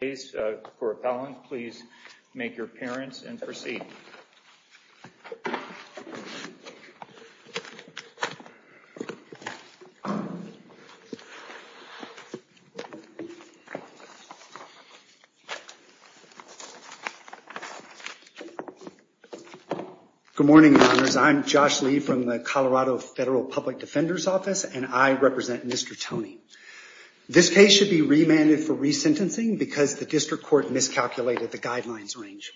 case for appellant, please make your appearance and proceed. Good morning, I'm Josh Lee from the Colorado Federal Public Defender's Office and I represent Mr. Tony. This case should be remanded for resentencing because the district court miscalculated the guidelines range.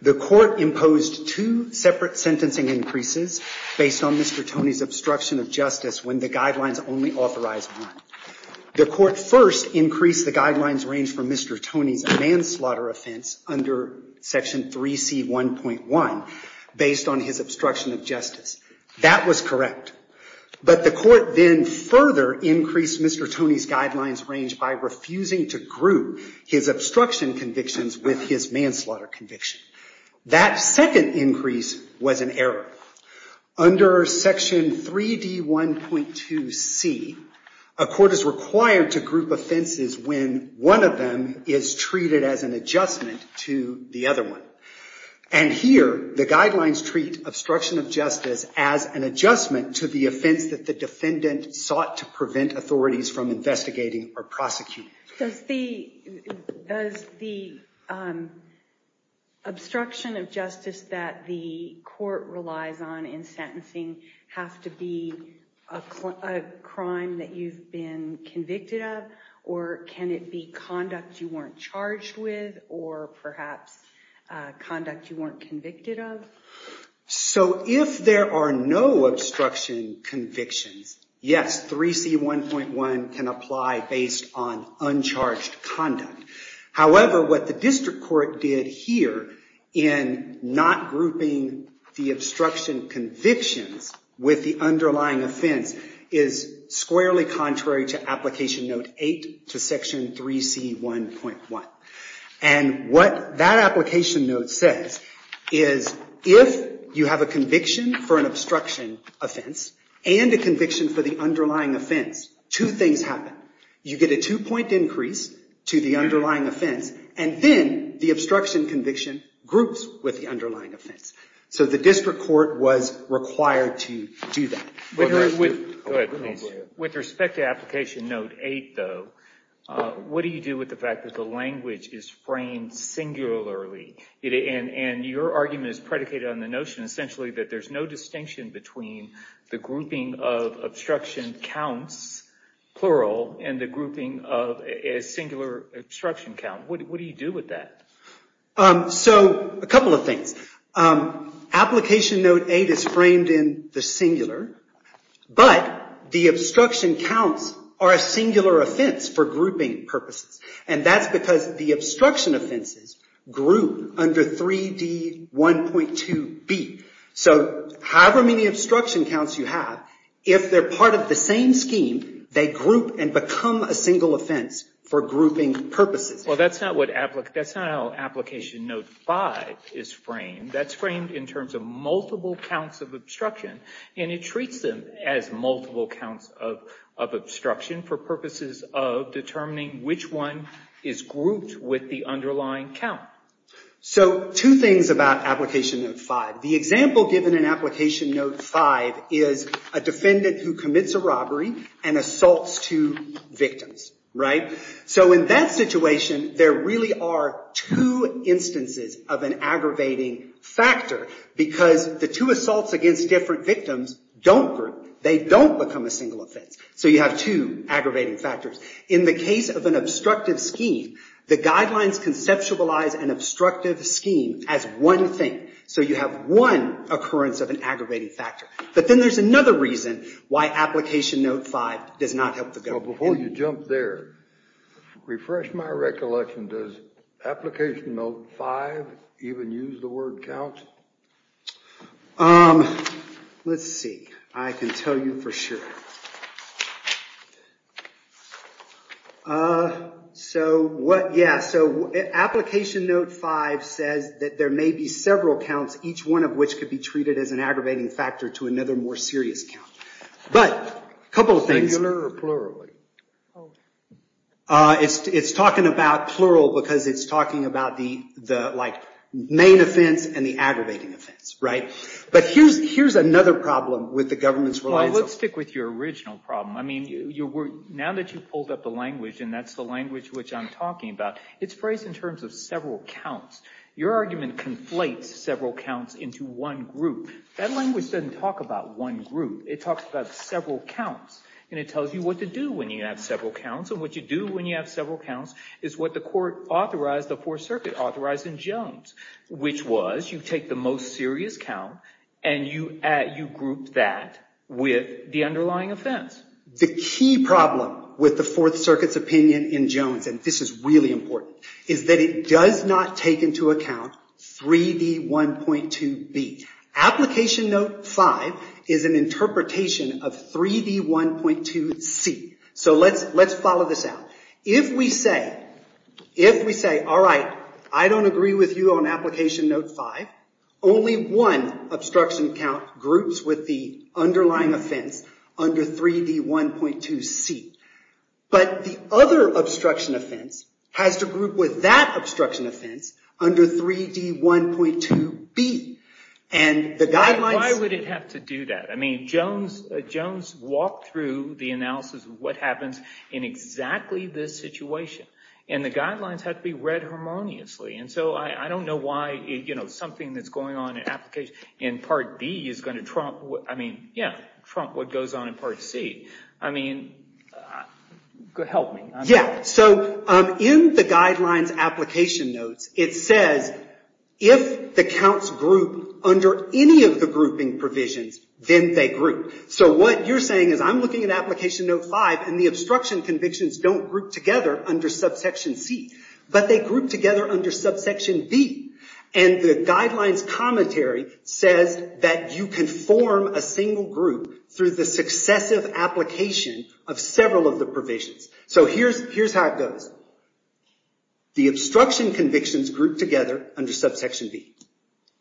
The court imposed two separate sentencing increases based on Mr. Tony's obstruction of justice when the guidelines only authorized one. The court first increased the guidelines range for Mr. Tony's manslaughter offense under Section 3C1.1 based on his obstruction of justice. That was correct. But the court then further increased Mr. Tony's guidelines range by refusing to group his obstruction convictions with his manslaughter conviction. That second increase was an error. Under Section 3D1.2C, a court is required to group offenses when one of them is treated as an adjustment to the other one. And here, the guidelines treat obstruction of justice as an adjustment to the offense that the defendant sought to prevent authorities from investigating or prosecuting. Does the obstruction of justice that the court relies on in sentencing have to be a crime that you've been convicted of or can it be conduct you weren't charged with or perhaps conduct you weren't convicted of? So if there are no obstruction convictions, yes, 3C1.1 can apply based on uncharged conduct. However, what the district court did here in not grouping the obstruction convictions with the underlying offense is squarely contrary to Application Note 8 to Section 3C1.1. And what that Application Note says is if you have a conviction for an obstruction offense and a conviction for the underlying offense, two things happen. You get a two-point increase to the underlying offense and then the obstruction conviction groups with the underlying offense. So the district court was required to do that. With respect to Application Note 8, though, what do you do with the fact that the language is framed singularly? And your argument is predicated on the notion essentially that there's no distinction between the grouping of obstruction counts, plural, and the grouping of a singular obstruction count. What do you do with that? So a couple of things. Application Note 8 is framed in the singular, but the obstruction counts are a singular offense for grouping purposes. And that's because the obstruction offenses group under 3D1.2B. So however many obstruction counts you have, if they're part of the same scheme, they group and become a single offense for grouping purposes. Well, that's not how Application Note 5 is framed. That's framed in terms of multiple counts of obstruction. And it treats them as multiple counts of obstruction for purposes of determining which one is grouped with the underlying count. So two things about Application Note 5. The example given in Application Note 5 is a defendant who commits a robbery and assaults two victims, right? So in that situation, there really are two instances of an aggravating factor, because the two assaults against different victims don't group. They don't become a single offense. So you have two aggravating factors. In the case of an obstructive scheme, the guidelines conceptualize an obstructive scheme as one thing. So you have one occurrence of an aggravating factor. But then there's another reason why Application Note 5 does not help the government. Before you jump there, refresh my recollection. Does Application Note 5 even use the word count? Let's see. I can tell you for sure. So what, yeah. So Application Note 5 says that there may be several counts, each one of which could be treated as an aggravating factor to another more serious count. But a couple of things. Singular or plurally? It's talking about plural because it's talking about the main offense and the aggravating offense, right? But here's another problem with the government's reliance on... Well, let's stick with your original problem. I mean, now that you've pulled up the language, and that's the language which I'm talking about, it's phrased in terms of several counts. Your argument conflates several counts into one group. That language doesn't talk about one group. It talks about several counts, and it tells you what to do when you have several counts. And what you do when you have several counts is what the court authorized, the Fourth Circuit authorized in Jones, which was you take the most serious count and you group that with the underlying offense. The key problem with the Fourth Circuit's opinion in Jones, and this is really important, is that it does not take into account 3D1.2B. Application Note 5 is an interpretation of 3D1.2C. So let's follow this out. If we say, all right, I don't agree with you on Application Note 5, only one obstruction count groups with the underlying offense under 3D1.2C. But the other obstruction offense has to group with that obstruction offense under 3D1.2B. Why would it have to do that? I mean, Jones walked through the analysis of what happens in exactly this situation. And the guidelines have to be read harmoniously. And so I don't know why something that's going on in Part B is going to trump what goes on in Part C. I mean, help me. Yeah, so in the guidelines Application Notes, it says, if the counts group under any of the grouping provisions, then they group. So what you're saying is, I'm looking at Application Note 5, and the obstruction convictions don't group together under subsection C. But they group together under subsection B. And the guidelines commentary says that you can form a single group through the successive application of several of the provisions. So here's how it goes. The obstruction convictions group together under subsection B.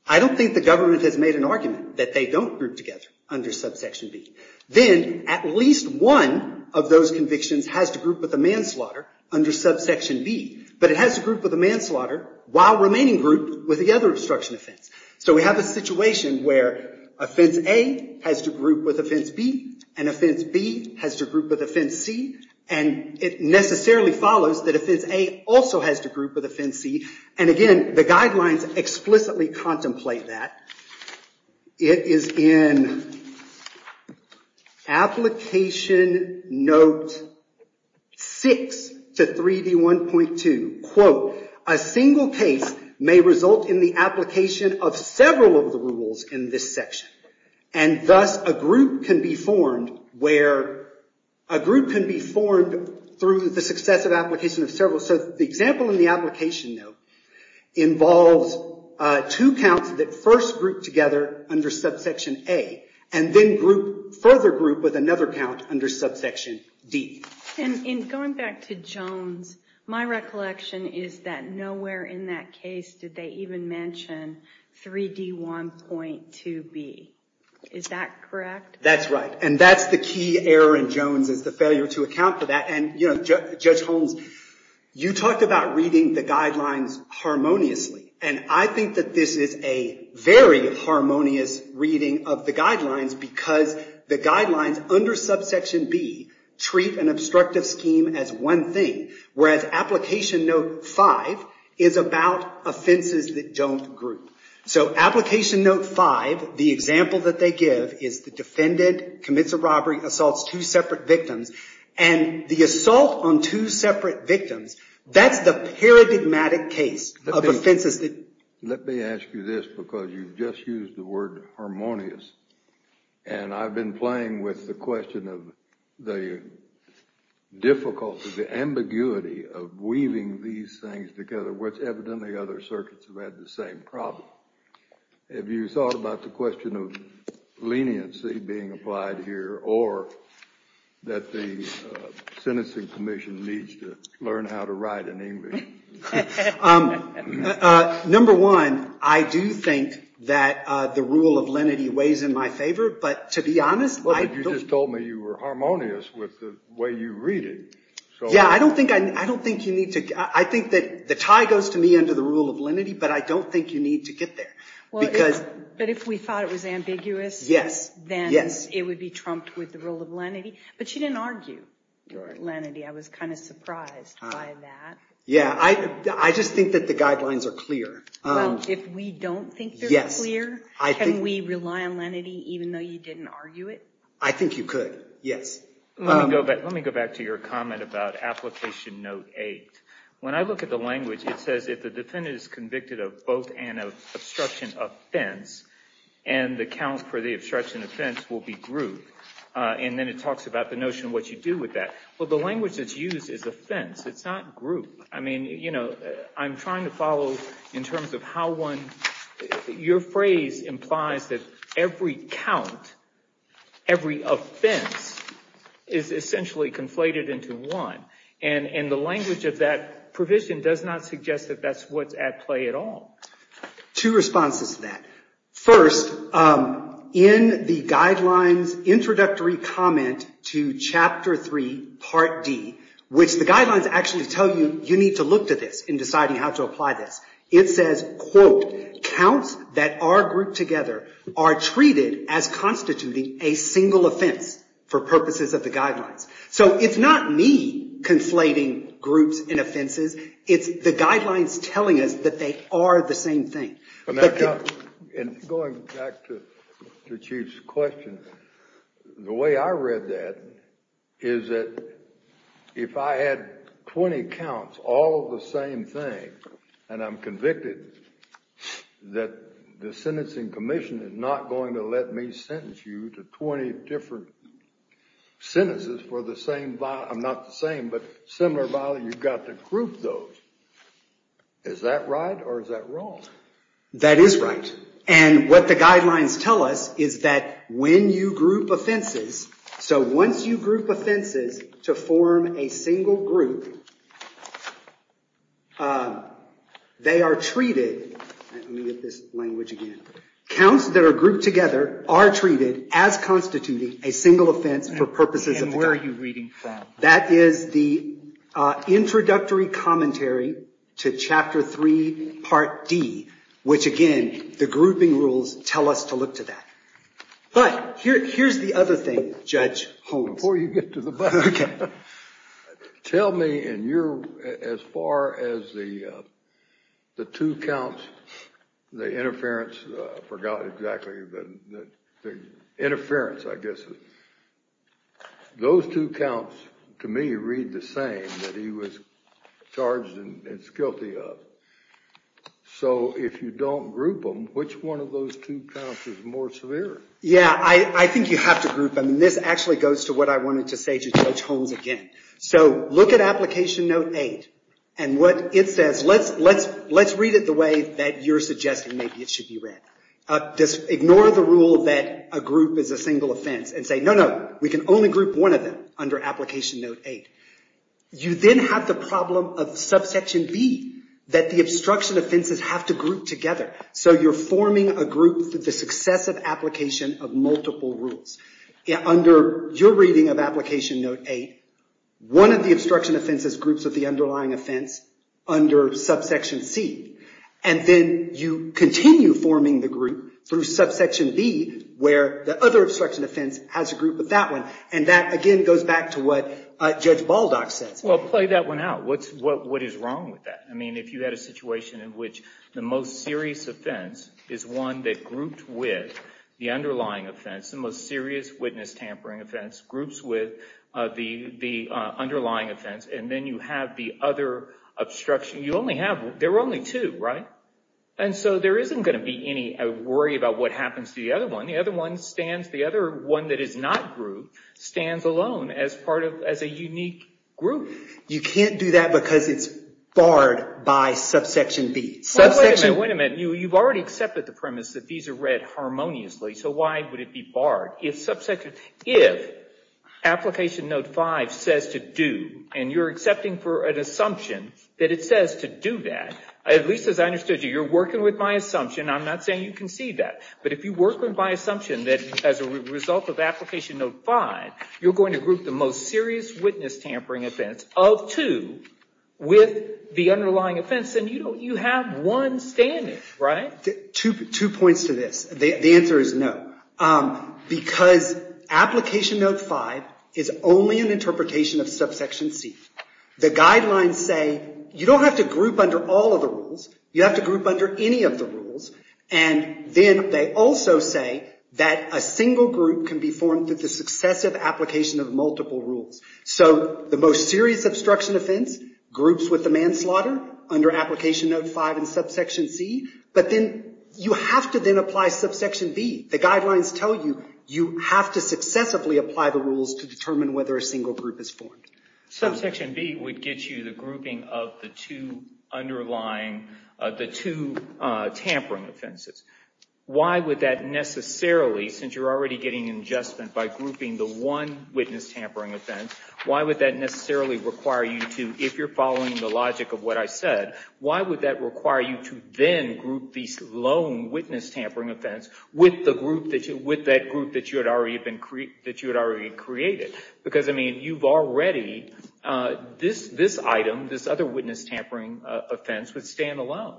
I don't think the government has made an argument that they don't group together under subsection B. Then at least one of those convictions has to group with the manslaughter under subsection B. But it has to group with the manslaughter while remaining grouped with the other obstruction offense. So we have a situation where offense A has to group with offense B. And offense B has to group with offense C. And it necessarily follows that offense A also has to group with offense C. And again, the guidelines explicitly contemplate that. It is in Application Note 6 to 3D1.2, quote, a single case may result in the application of several of the rules in this section. And thus, a group can be formed through the successive application of several. So the example in the Application Note involves two counts that first group together under subsection A. And then further group with another count under subsection D. And in going back to Jones, my recollection is that nowhere in that case did they even mention 3D1.2B. Is that correct? That's right. And that's the key error in Jones is the failure to account for that. And Judge Holmes, you talked about reading the guidelines harmoniously. And I think that this is a very harmonious reading of the guidelines because the guidelines under subsection B treat an obstructive scheme as one thing. Whereas Application Note 5 is about offenses that don't group. So Application Note 5, the example that they give is the defendant commits a robbery, assaults two separate victims. And the assault on two separate victims, that's the paradigmatic case of offenses that don't group. Let me ask you this because you've just used the word harmonious. And I've been playing with the question of the difficulty, the ambiguity of weaving these things together, which evidently other circuits have had the same problem. Have you thought about the question of leniency being applied here or that the sentencing commission needs to learn how to write in English? Number one, I do think that the rule of lenity weighs in my favor. But to be honest, I don't think that the tie goes to me under the rule of lenity, but I don't think you need to get there. But if we thought it was ambiguous, then it would be trumped with the rule of lenity. But you didn't argue your lenity. I was kind of surprised by that. Yeah, I just think that the guidelines are clear. If we don't think they're clear, can we rely on lenity even though you didn't argue it? I think you could, yes. Let me go back to your comment about application note eight. When I look at the language, it says if the defendant is convicted of both an obstruction offense and the count for the obstruction offense will be grouped, and then it talks about the notion of what you do with that. Well, the language that's used is offense. It's not group. I mean, I'm trying to follow in terms of how one, your phrase implies that every count, every offense, is essentially conflated into one. And the language of that provision does not suggest that that's what's at play at all. Two responses to that. First, in the guidelines introductory comment to chapter three, part D, which the guidelines actually tell you you need to look to this in deciding how to apply this. It says, quote, counts that are grouped together are treated as constituting a single offense for purposes of the guidelines. So it's not me conflating groups and offenses. It's the guidelines telling us that they are the same thing. And going back to the chief's question, the way I read that is that if I had 20 counts, all the same thing, and I'm convicted that the sentencing commission is not going to let me sentence you to 20 different sentences for the same, I'm not the same, but similar violence, you've got to group those. Is that right? Or is that wrong? That is right. And what the guidelines tell us is that when you group offenses, so once you group offenses to form a single group, they are treated. Let me get this language again. Counts that are grouped together are treated as constituting a single offense for purposes of the guidelines. And where are you reading that? That is the introductory commentary to Chapter 3, Part D, which again, the grouping rules tell us to look to that. But here's the other thing, Judge Holmes. Before you get to the back, tell me, as far as the two counts, the interference, I forgot exactly, the interference, I guess, those two counts, to me, read the same that he was charged and is guilty of. So if you don't group them, which one of those two counts is more severe? Yeah, I think you have to group them. This actually goes to what I wanted to say to Judge Holmes again. So look at Application Note 8. And what it says, let's read it the way that you're suggesting maybe it should be read. Ignore the rule that a group is a single offense. We can only group one of them under Application Note 8. You then have the problem of Subsection B, that the obstruction offenses have to group together. So you're forming a group for the successive application of multiple rules. Under your reading of Application Note 8, one of the obstruction offenses groups with the underlying offense under Subsection C. And then you continue forming the group through Subsection B, where the other obstruction offense has a group with that one. And that, again, goes back to what Judge Baldock says. Well, play that one out. What is wrong with that? I mean, if you had a situation in which the most serious offense is one that grouped with the underlying offense, the most serious witness tampering offense, groups with the underlying offense, and then you have the other obstruction. You only have, there were only two, right? And so there isn't going to be any worry about what happens to the other one. The other one stands, the other one that is not grouped, stands alone as part of, as a unique group. You can't do that because it's barred by Subsection B. Wait a minute, wait a minute. You've already accepted the premise that these are read harmoniously. So why would it be barred? If Subsection, if Application Note 5 says to do, and you're accepting for an assumption that it says to do that, at least as I understood you, you're working with my assumption. I'm not saying you concede that. But if you work with my assumption that as a result of Application Note 5, you're going to group the most serious witness tampering offense of two with the underlying offense, then you have one standing, right? Two points to this. The answer is no. Because Application Note 5 is only an interpretation of Subsection C. The guidelines say, you don't have to group under all of the rules. You have to group under any of the rules. And then they also say that a single group can be formed through the successive application of multiple rules. So the most serious obstruction offense, groups with the manslaughter, under Application Note 5 and Subsection C. But then you have to then apply Subsection B. The guidelines tell you, you have to successively apply the rules to determine whether a single group is formed. Subsection B would get you the grouping of the two tampering offenses. Why would that necessarily, since you're already getting an adjustment by grouping the one witness tampering offense, why would that necessarily require you to, if you're following the logic of what I said, why would that require you to then group these lone witness tampering offense with that group that you had already created? Because I mean, you've already, this item, this other witness tampering offense, would stand alone.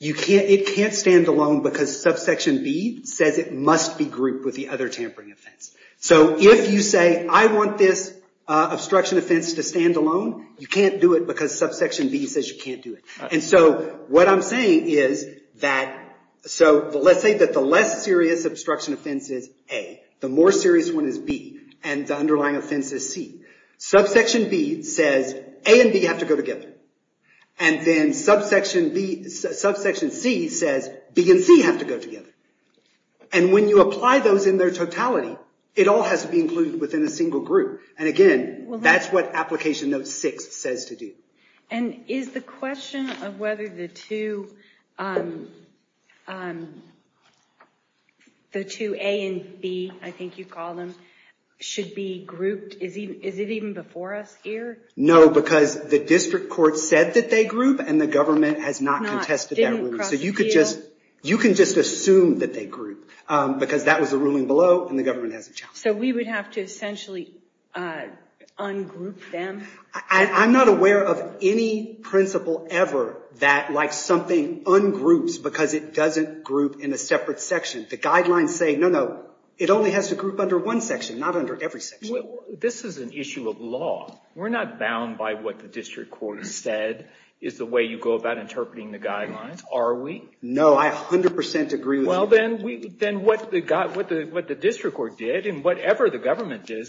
It can't stand alone because Subsection B says it must be grouped with the other tampering offense. So if you say, I want this obstruction offense to stand alone, you can't do it because Subsection B says you can't do it. And so what I'm saying is that, so let's say that the less serious obstruction offense is A, the more serious one is B, and the underlying offense is C. Subsection B says A and B have to go together. And then Subsection C says B and C have to go together. And when you apply those in their totality, it all has to be included within a single group. And again, that's what Application Note 6 says to do. And is the question of whether the two A and B, I think you call them, should be grouped, is it even before us here? No, because the district court said that they group, and the government has not contested that ruling. So you can just assume that they group, because that was the ruling below, and the government has a challenge. So we would have to essentially ungroup them? I'm not aware of any principle ever that like something ungroups because it doesn't group in a separate section. The guidelines say, no, no, it only has to group under one section, not under every section. This is an issue of law. We're not bound by what the district court said is the way you go about interpreting the guidelines, are we? No, I 100% agree with you. Well, then what the district court did and whatever the government did,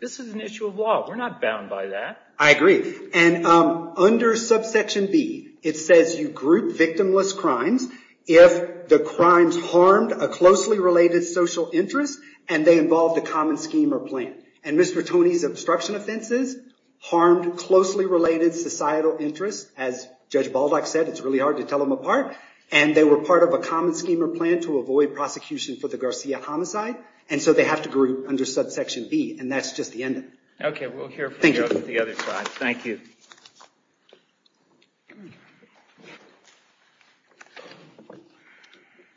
this is an issue of law. We're not bound by that. I agree. And under Subsection B, it says you group victimless crimes if the crimes harmed a closely related social interest and they involved a common scheme or plan. And Mr. Tony's obstruction offenses harmed closely related societal interests. As Judge Baldock said, it's really hard to tell them apart. And they were part of a common scheme or plan to avoid prosecution for the Garcia homicide. And so they have to group under Subsection B, and that's just the end of it. OK, we'll hear from you on the other side. Thank you.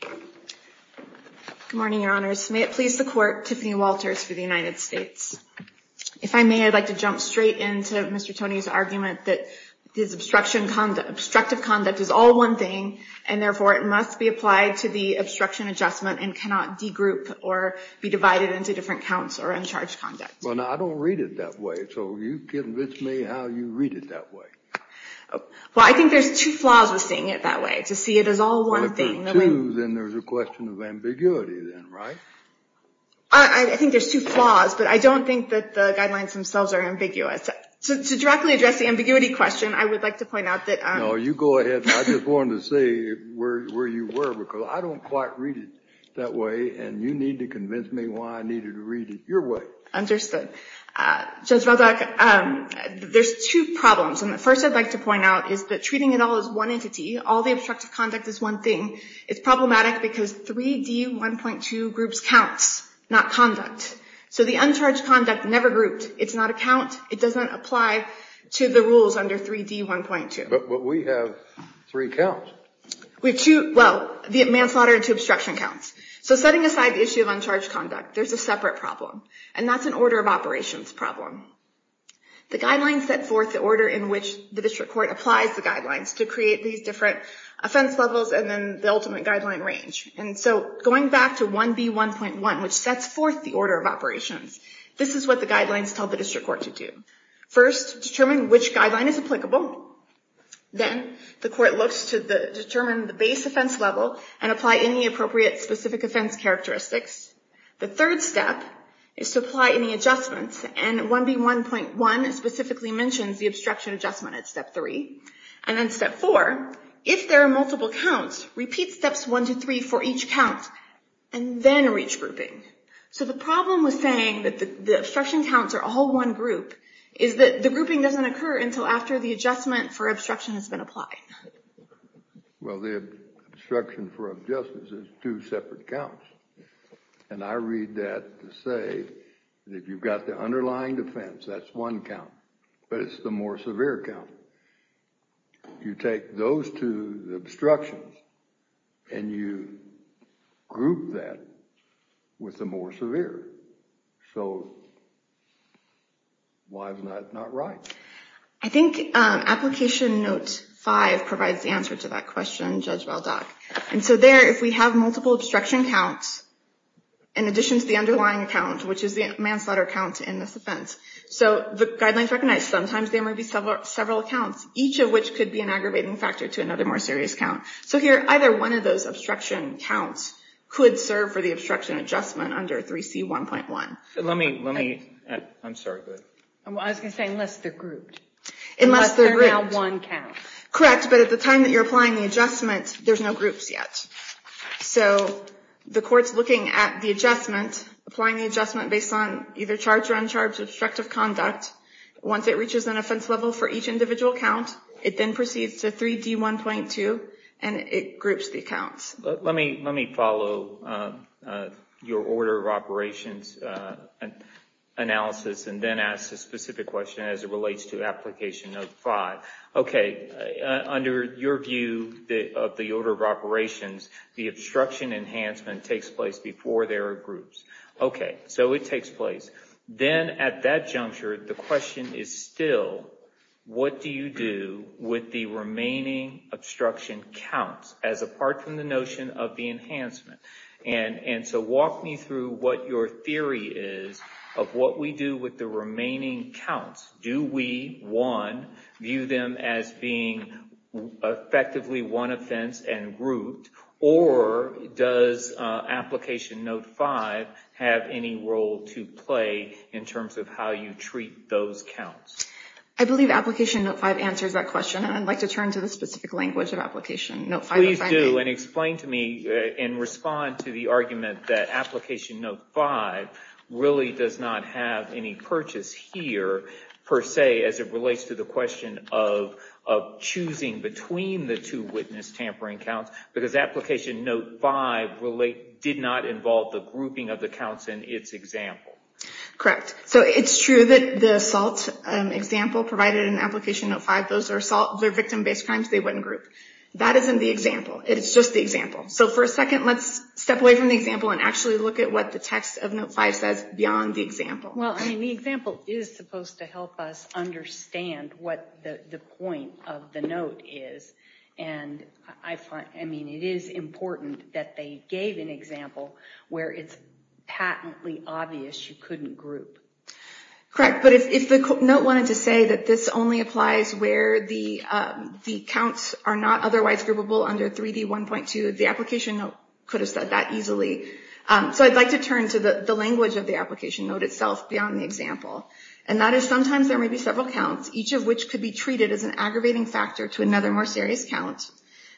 Good morning, Your Honors. May it please the court, Tiffany Walters for the United States. If I may, I'd like to jump straight into Mr. Tony's argument that this obstructive conduct is all one thing, and therefore it must be applied to the obstruction adjustment and cannot de-group or be divided into different counts or uncharged conduct. Well, now, I don't read it that way. So will you convince me how you read it that way? Well, I think there's two flaws with seeing it that way. To see it as all one thing. Well, if there are two, then there's a question of ambiguity then, right? I think there's two flaws, but I don't think that the guidelines themselves are ambiguous. To directly address the ambiguity question, I would like to point out that I'm No, you go ahead. I just wanted to see where you were, because I don't quite read it that way. And you need to convince me why I needed to read it your way. Understood. Judge Baldock, there's two problems. And the first I'd like to point out is that treating it all as one entity, all the obstructive conduct is one thing, it's problematic because 3D 1.2 groups counts, not conduct. So the uncharged conduct never grouped. It's not a count. It doesn't apply to the rules under 3D 1.2. But we have three counts. We have two, well, the manslaughter and two obstruction counts. So setting aside the issue of uncharged conduct, there's a separate problem. And that's an order of operations problem. The guidelines set forth the order in which the district court applies the guidelines to create these different offense levels and then the ultimate guideline range. And so going back to 1B 1.1, which sets forth the order of operations, this is what the guidelines tell the district court to do. First, determine which guideline is applicable. Then the court looks to determine the base offense level and apply any appropriate specific offense characteristics. The third step is to apply any adjustments. And 1B 1.1 specifically mentions the obstruction adjustment at step three. And then step four, if there are multiple counts, repeat steps one to three for each count and then reach grouping. So the problem with saying that the obstruction counts are all one group is that the grouping doesn't occur until after the adjustment for obstruction has been applied. Well, the obstruction for objustice is two separate counts. And I read that to say that if you've got the underlying defense, that's one count. But it's the more severe count. You take those two obstructions and you group that with the more severe. So why is that not right? I think application note five provides the answer to that question, Judge Valdoc. And so there, if we have multiple obstruction counts in addition to the underlying count, which is the manslaughter count in this offense. So the guidelines recognize sometimes there may be several accounts, each of which could be an aggravating factor to another more serious count. So here, either one of those obstruction counts could serve for the obstruction adjustment under 3C 1.1. Let me, let me, I'm sorry, go ahead. I was going to say, unless they're grouped. Unless they're grouped. Unless they're now one count. Correct. But at the time that you're applying the adjustment, there's no groups yet. So the court's looking at the adjustment, applying the adjustment based on either charged or uncharged obstructive conduct. Once it reaches an offense level for each individual count, it then proceeds to 3D 1.2, and it groups the accounts. Let me, let me follow your order of operations analysis and then ask a specific question as it relates to application note five. OK, under your view of the order of operations, the obstruction enhancement takes place before there are groups. OK, so it takes place. Then at that juncture, the question is still, what do you do with the remaining obstruction counts as apart from the notion of the enhancement? And so walk me through what your theory is of what we do with the remaining counts. Do we, one, view them as being effectively one offense and grouped? Or does application note five have any role to play in terms of how you treat those counts? I believe application note five answers that question. And I'd like to turn to the specific language of application note five. Please do, and explain to me and respond to the argument that application note five really does not have any purchase here, per se, as it relates to the question of choosing between the two witness tampering counts. Because application note five did not involve the grouping of the counts in its example. Correct. So it's true that the assault example provided in application note five, those are assault, they're victim-based crimes, they wouldn't group. That isn't the example. It's just the example. So for a second, let's step away from the example and actually look at what the text of note five says beyond the example. Well, I mean, the example is supposed to help us understand what the point of the note is. And I mean, it is important that they gave an example where it's patently obvious you couldn't group. Correct, but if the note wanted to say that this only applies where the counts are not otherwise groupable under 3D 1.2, the application note could have said that easily. So I'd like to turn to the language of the application note itself beyond the example. And that is, sometimes there may be several counts, each of which could be treated as an aggravating factor to another more serious count.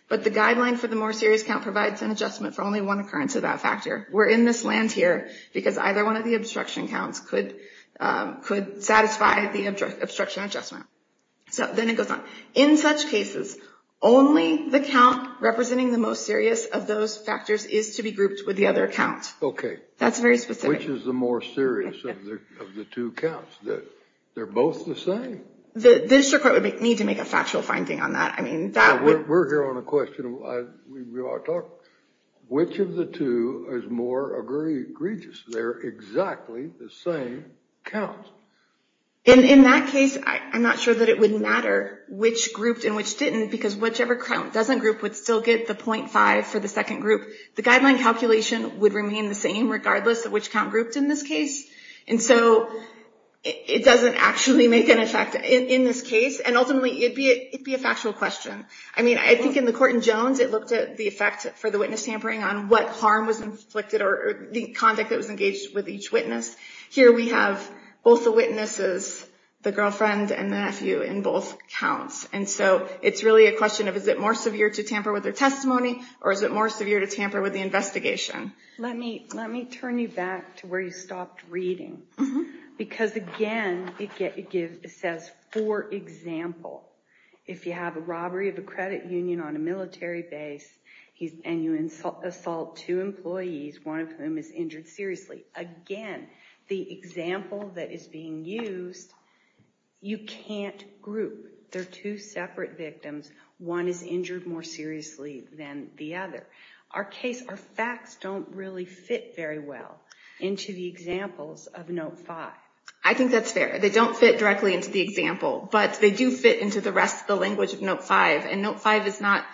But the guideline for the more serious count provides an adjustment for only one occurrence of that factor. We're in this land here because either one of the obstruction counts could satisfy the obstruction adjustment. So then it goes on. In such cases, only the count representing the most serious of those factors is to be grouped with the other count. OK. That's very specific. Which is the more serious of the two counts? They're both the same. The district court would need to make a factual finding on that. I mean, that would. We're here on a question. Which of the two is more egregious? They're exactly the same count. And in that case, I'm not sure that it would matter which grouped and which didn't. Because whichever count doesn't group would still get the 0.5 for the second group. The guideline calculation would remain the same, regardless of which count grouped in this case. And so it doesn't actually make an effect in this case. And ultimately, it'd be a factual question. I mean, I think in the court in Jones, it looked at the effect for the witness tampering on what harm was inflicted or the conduct that was engaged with each witness. Here we have both the witnesses, the girlfriend and nephew, in both counts. And so it's really a question of, is it more severe to tamper with their testimony? Or is it more severe to tamper with the investigation? Let me turn you back to where you stopped reading. Because again, it says, for example, if you have a robbery of a credit union on a military base and you assault two employees, one of whom is injured seriously, again, the example that is being used, you can't group. They're two separate victims. One is injured more seriously than the other. Our case, our facts, don't really fit very well into the examples of Note 5. I think that's fair. They don't fit directly into the example. But they do fit into the rest of the language of Note 5. And Note 5 is not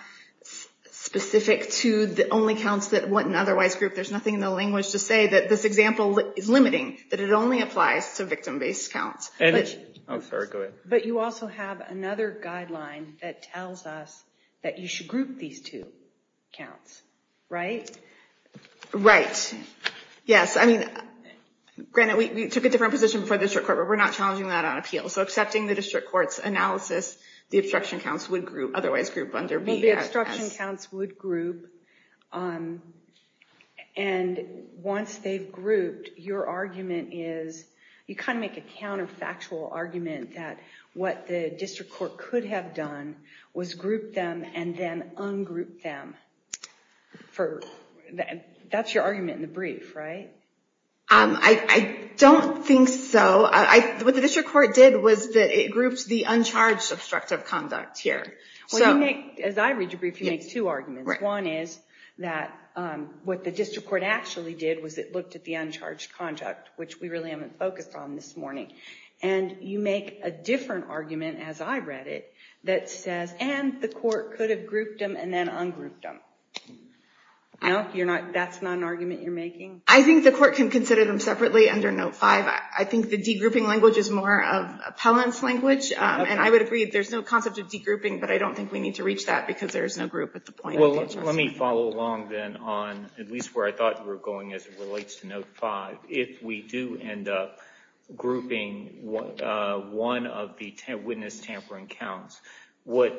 specific to the only counts that wouldn't otherwise group. There's nothing in the language to say that this example is limiting, that it only applies to victim-based counts. But you also have another guideline that tells us that you should group these two counts, right? Right. Yes, I mean, granted, we took a different position for the district court, but we're not challenging that on appeal. So accepting the district court's analysis, the obstruction counts would group, otherwise group under B. The obstruction counts would group. And once they've grouped, your argument is, you kind of make a counterfactual argument that what the district court could have done was group them and then ungroup them. That's your argument in the brief, right? I don't think so. What the district court did was that it grouped the uncharged obstructive conduct here. As I read your brief, you make two arguments. One is that what the district court actually did was it looked at the uncharged conduct, which we really haven't focused on this morning. And you make a different argument, as I read it, that says, and the court could have grouped them and then ungrouped them. No? That's not an argument you're making? I think the court can consider them separately under note 5. I think the de-grouping language is more of appellant's language, and I would agree that there's no concept of de-grouping. But I don't think we need to reach that, because there is no group at the point of interest. Well, let me follow along, then, on at least where I thought you were going as it relates to note 5. If we do end up grouping one of the witness tampering counts, what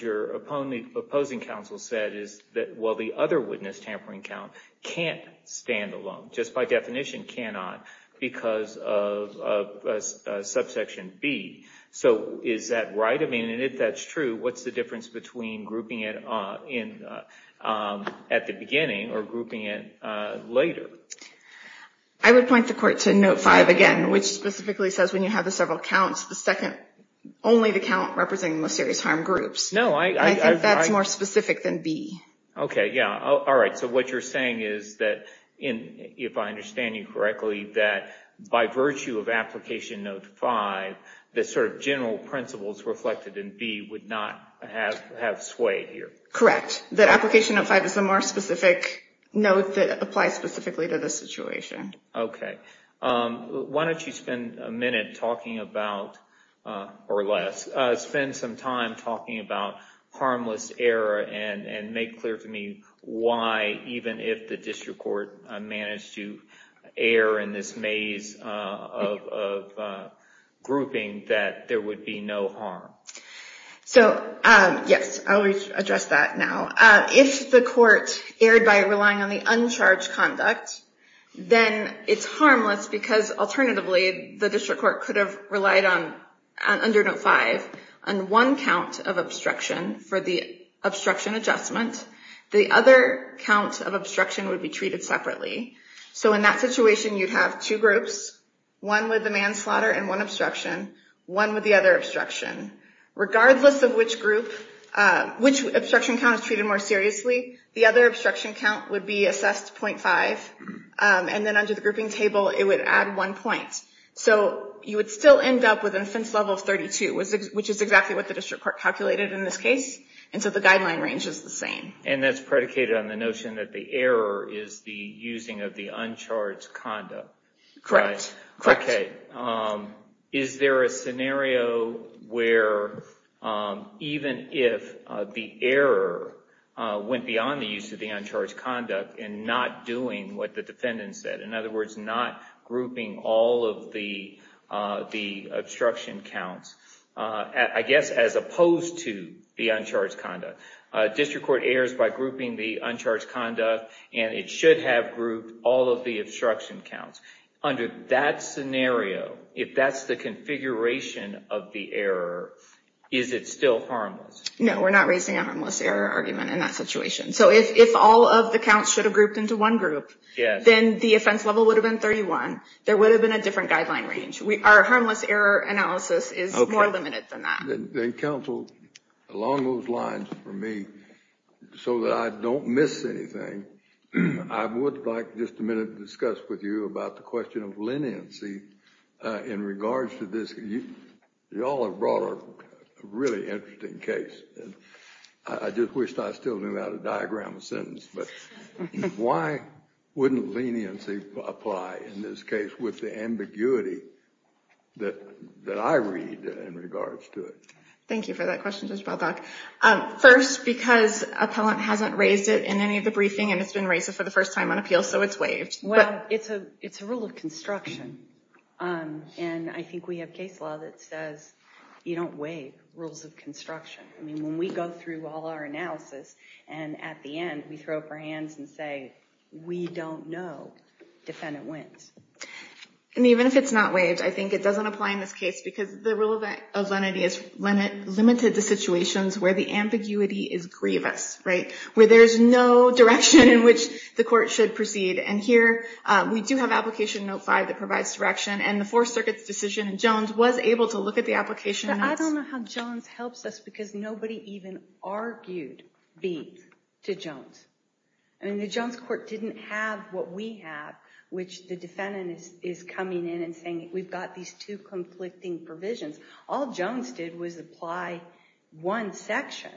your opposing counsel said is that, well, the other witness tampering count can't stand alone, just by definition cannot, because of subsection B. So is that right? I mean, and if that's true, what's the difference between grouping it at the beginning or grouping it later? I would point the court to note 5 again, which specifically says when you have the several counts, only the count representing the most serious harm groups. No, I think that's more specific than B. OK, yeah. All right, so what you're saying is that, if I understand you correctly, that by virtue of application note 5, the sort of general principles reflected in B would not have swayed here. Correct. The application of 5 is a more specific note that applies specifically to this situation. OK, why don't you spend a minute talking about, or less, spend some time talking about harmless error and make clear to me why, even if the district court managed to err in this maze of grouping, that there would be no harm. So yes, I'll address that now. If the court erred by relying on the uncharged conduct, then it's harmless because, alternatively, the district court could have relied under note 5 on one count of obstruction for the obstruction adjustment. The other count of obstruction would be treated separately. So in that situation, you'd have two groups, one with the manslaughter and one obstruction, one with the other obstruction. Regardless of which group, which obstruction count is treated more seriously, the other obstruction count would be assessed 0.5, and then under the grouping table, it would add one point. So you would still end up with an offense level of 32, which is exactly what the district court calculated in this case, and so the guideline range is the same. And that's predicated on the notion that the error is the using of the uncharged conduct. Correct. Correct. Is there a scenario where, even if the error went beyond the use of the uncharged conduct and not doing what the defendant said, in other words, not grouping all of the obstruction counts, I guess as opposed to the uncharged conduct, district court errors by grouping the uncharged conduct, and it should have grouped all of the obstruction counts. Under that scenario, if that's the configuration of the error, is it still harmless? No, we're not raising a harmless error argument in that situation. So if all of the counts should have grouped into one group, then the offense level would have been 31. There would have been a different guideline range. Our harmless error analysis is more limited than that. Then counsel, along those lines for me, so that I don't miss anything, I would like just a minute to discuss with you about the question of leniency in regards to this. You all have brought a really interesting case. I just wish I still knew how to diagram a sentence. But why wouldn't leniency apply in this case with the ambiguity that I read in regards to it? Thank you for that question, Judge Baldock. First, because appellant hasn't raised it in any of the briefing, and it's been raised for the first time on appeal, so it's waived. It's a rule of construction. And I think we have case law that says you don't waive rules of construction. I mean, when we go through all our analysis, and at the end, we throw up our hands and say, we don't know, defendant wins. And even if it's not waived, I think it doesn't apply in this case, because the rule of lenity is limited to situations where the ambiguity is grievous, where there's no direction in which the court should proceed. And here, we do have application note 5 that provides direction. And the Fourth Circuit's decision in Jones was able to look at the application notes. But I don't know how Jones helps us, because nobody even argued B to Jones. I mean, the Jones court didn't have what we have, which the defendant is coming in and saying, we've got these two conflicting provisions. All Jones did was apply one section.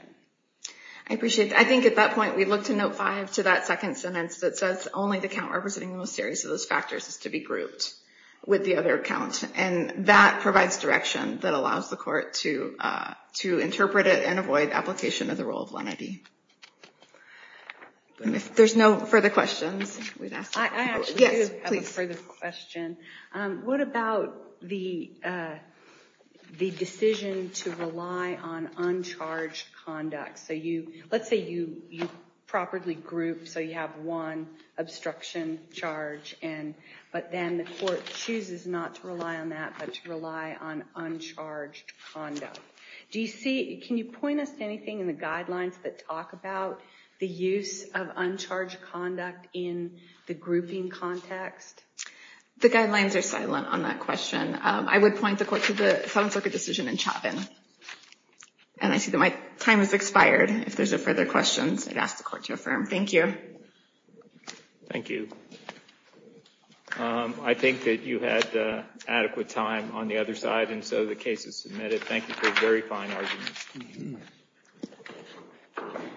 I appreciate that. I think at that point, we looked in note 5 to that second sentence that says, only the count representing the most serious of those factors is to be grouped with the other count. And that provides direction that allows the court to interpret it and avoid application of the rule of lenity. And if there's no further questions, we'd ask. I actually do have a further question. What about the decision to rely on uncharged conduct? Let's say you properly grouped, so you have one obstruction charge. But then the court chooses not to rely on that, but to rely on uncharged conduct. Can you point us to anything in the guidelines that talk about the use of uncharged conduct in the grouping context? The guidelines are silent on that question. I would point the court to the Seventh Circuit decision in Chauvin. And I see that my time has expired. If there's a further questions, I'd ask the court to affirm. Thank you. Thank you. I think that you had adequate time on the other side, and so the case is submitted. Thank you for a very fine argument.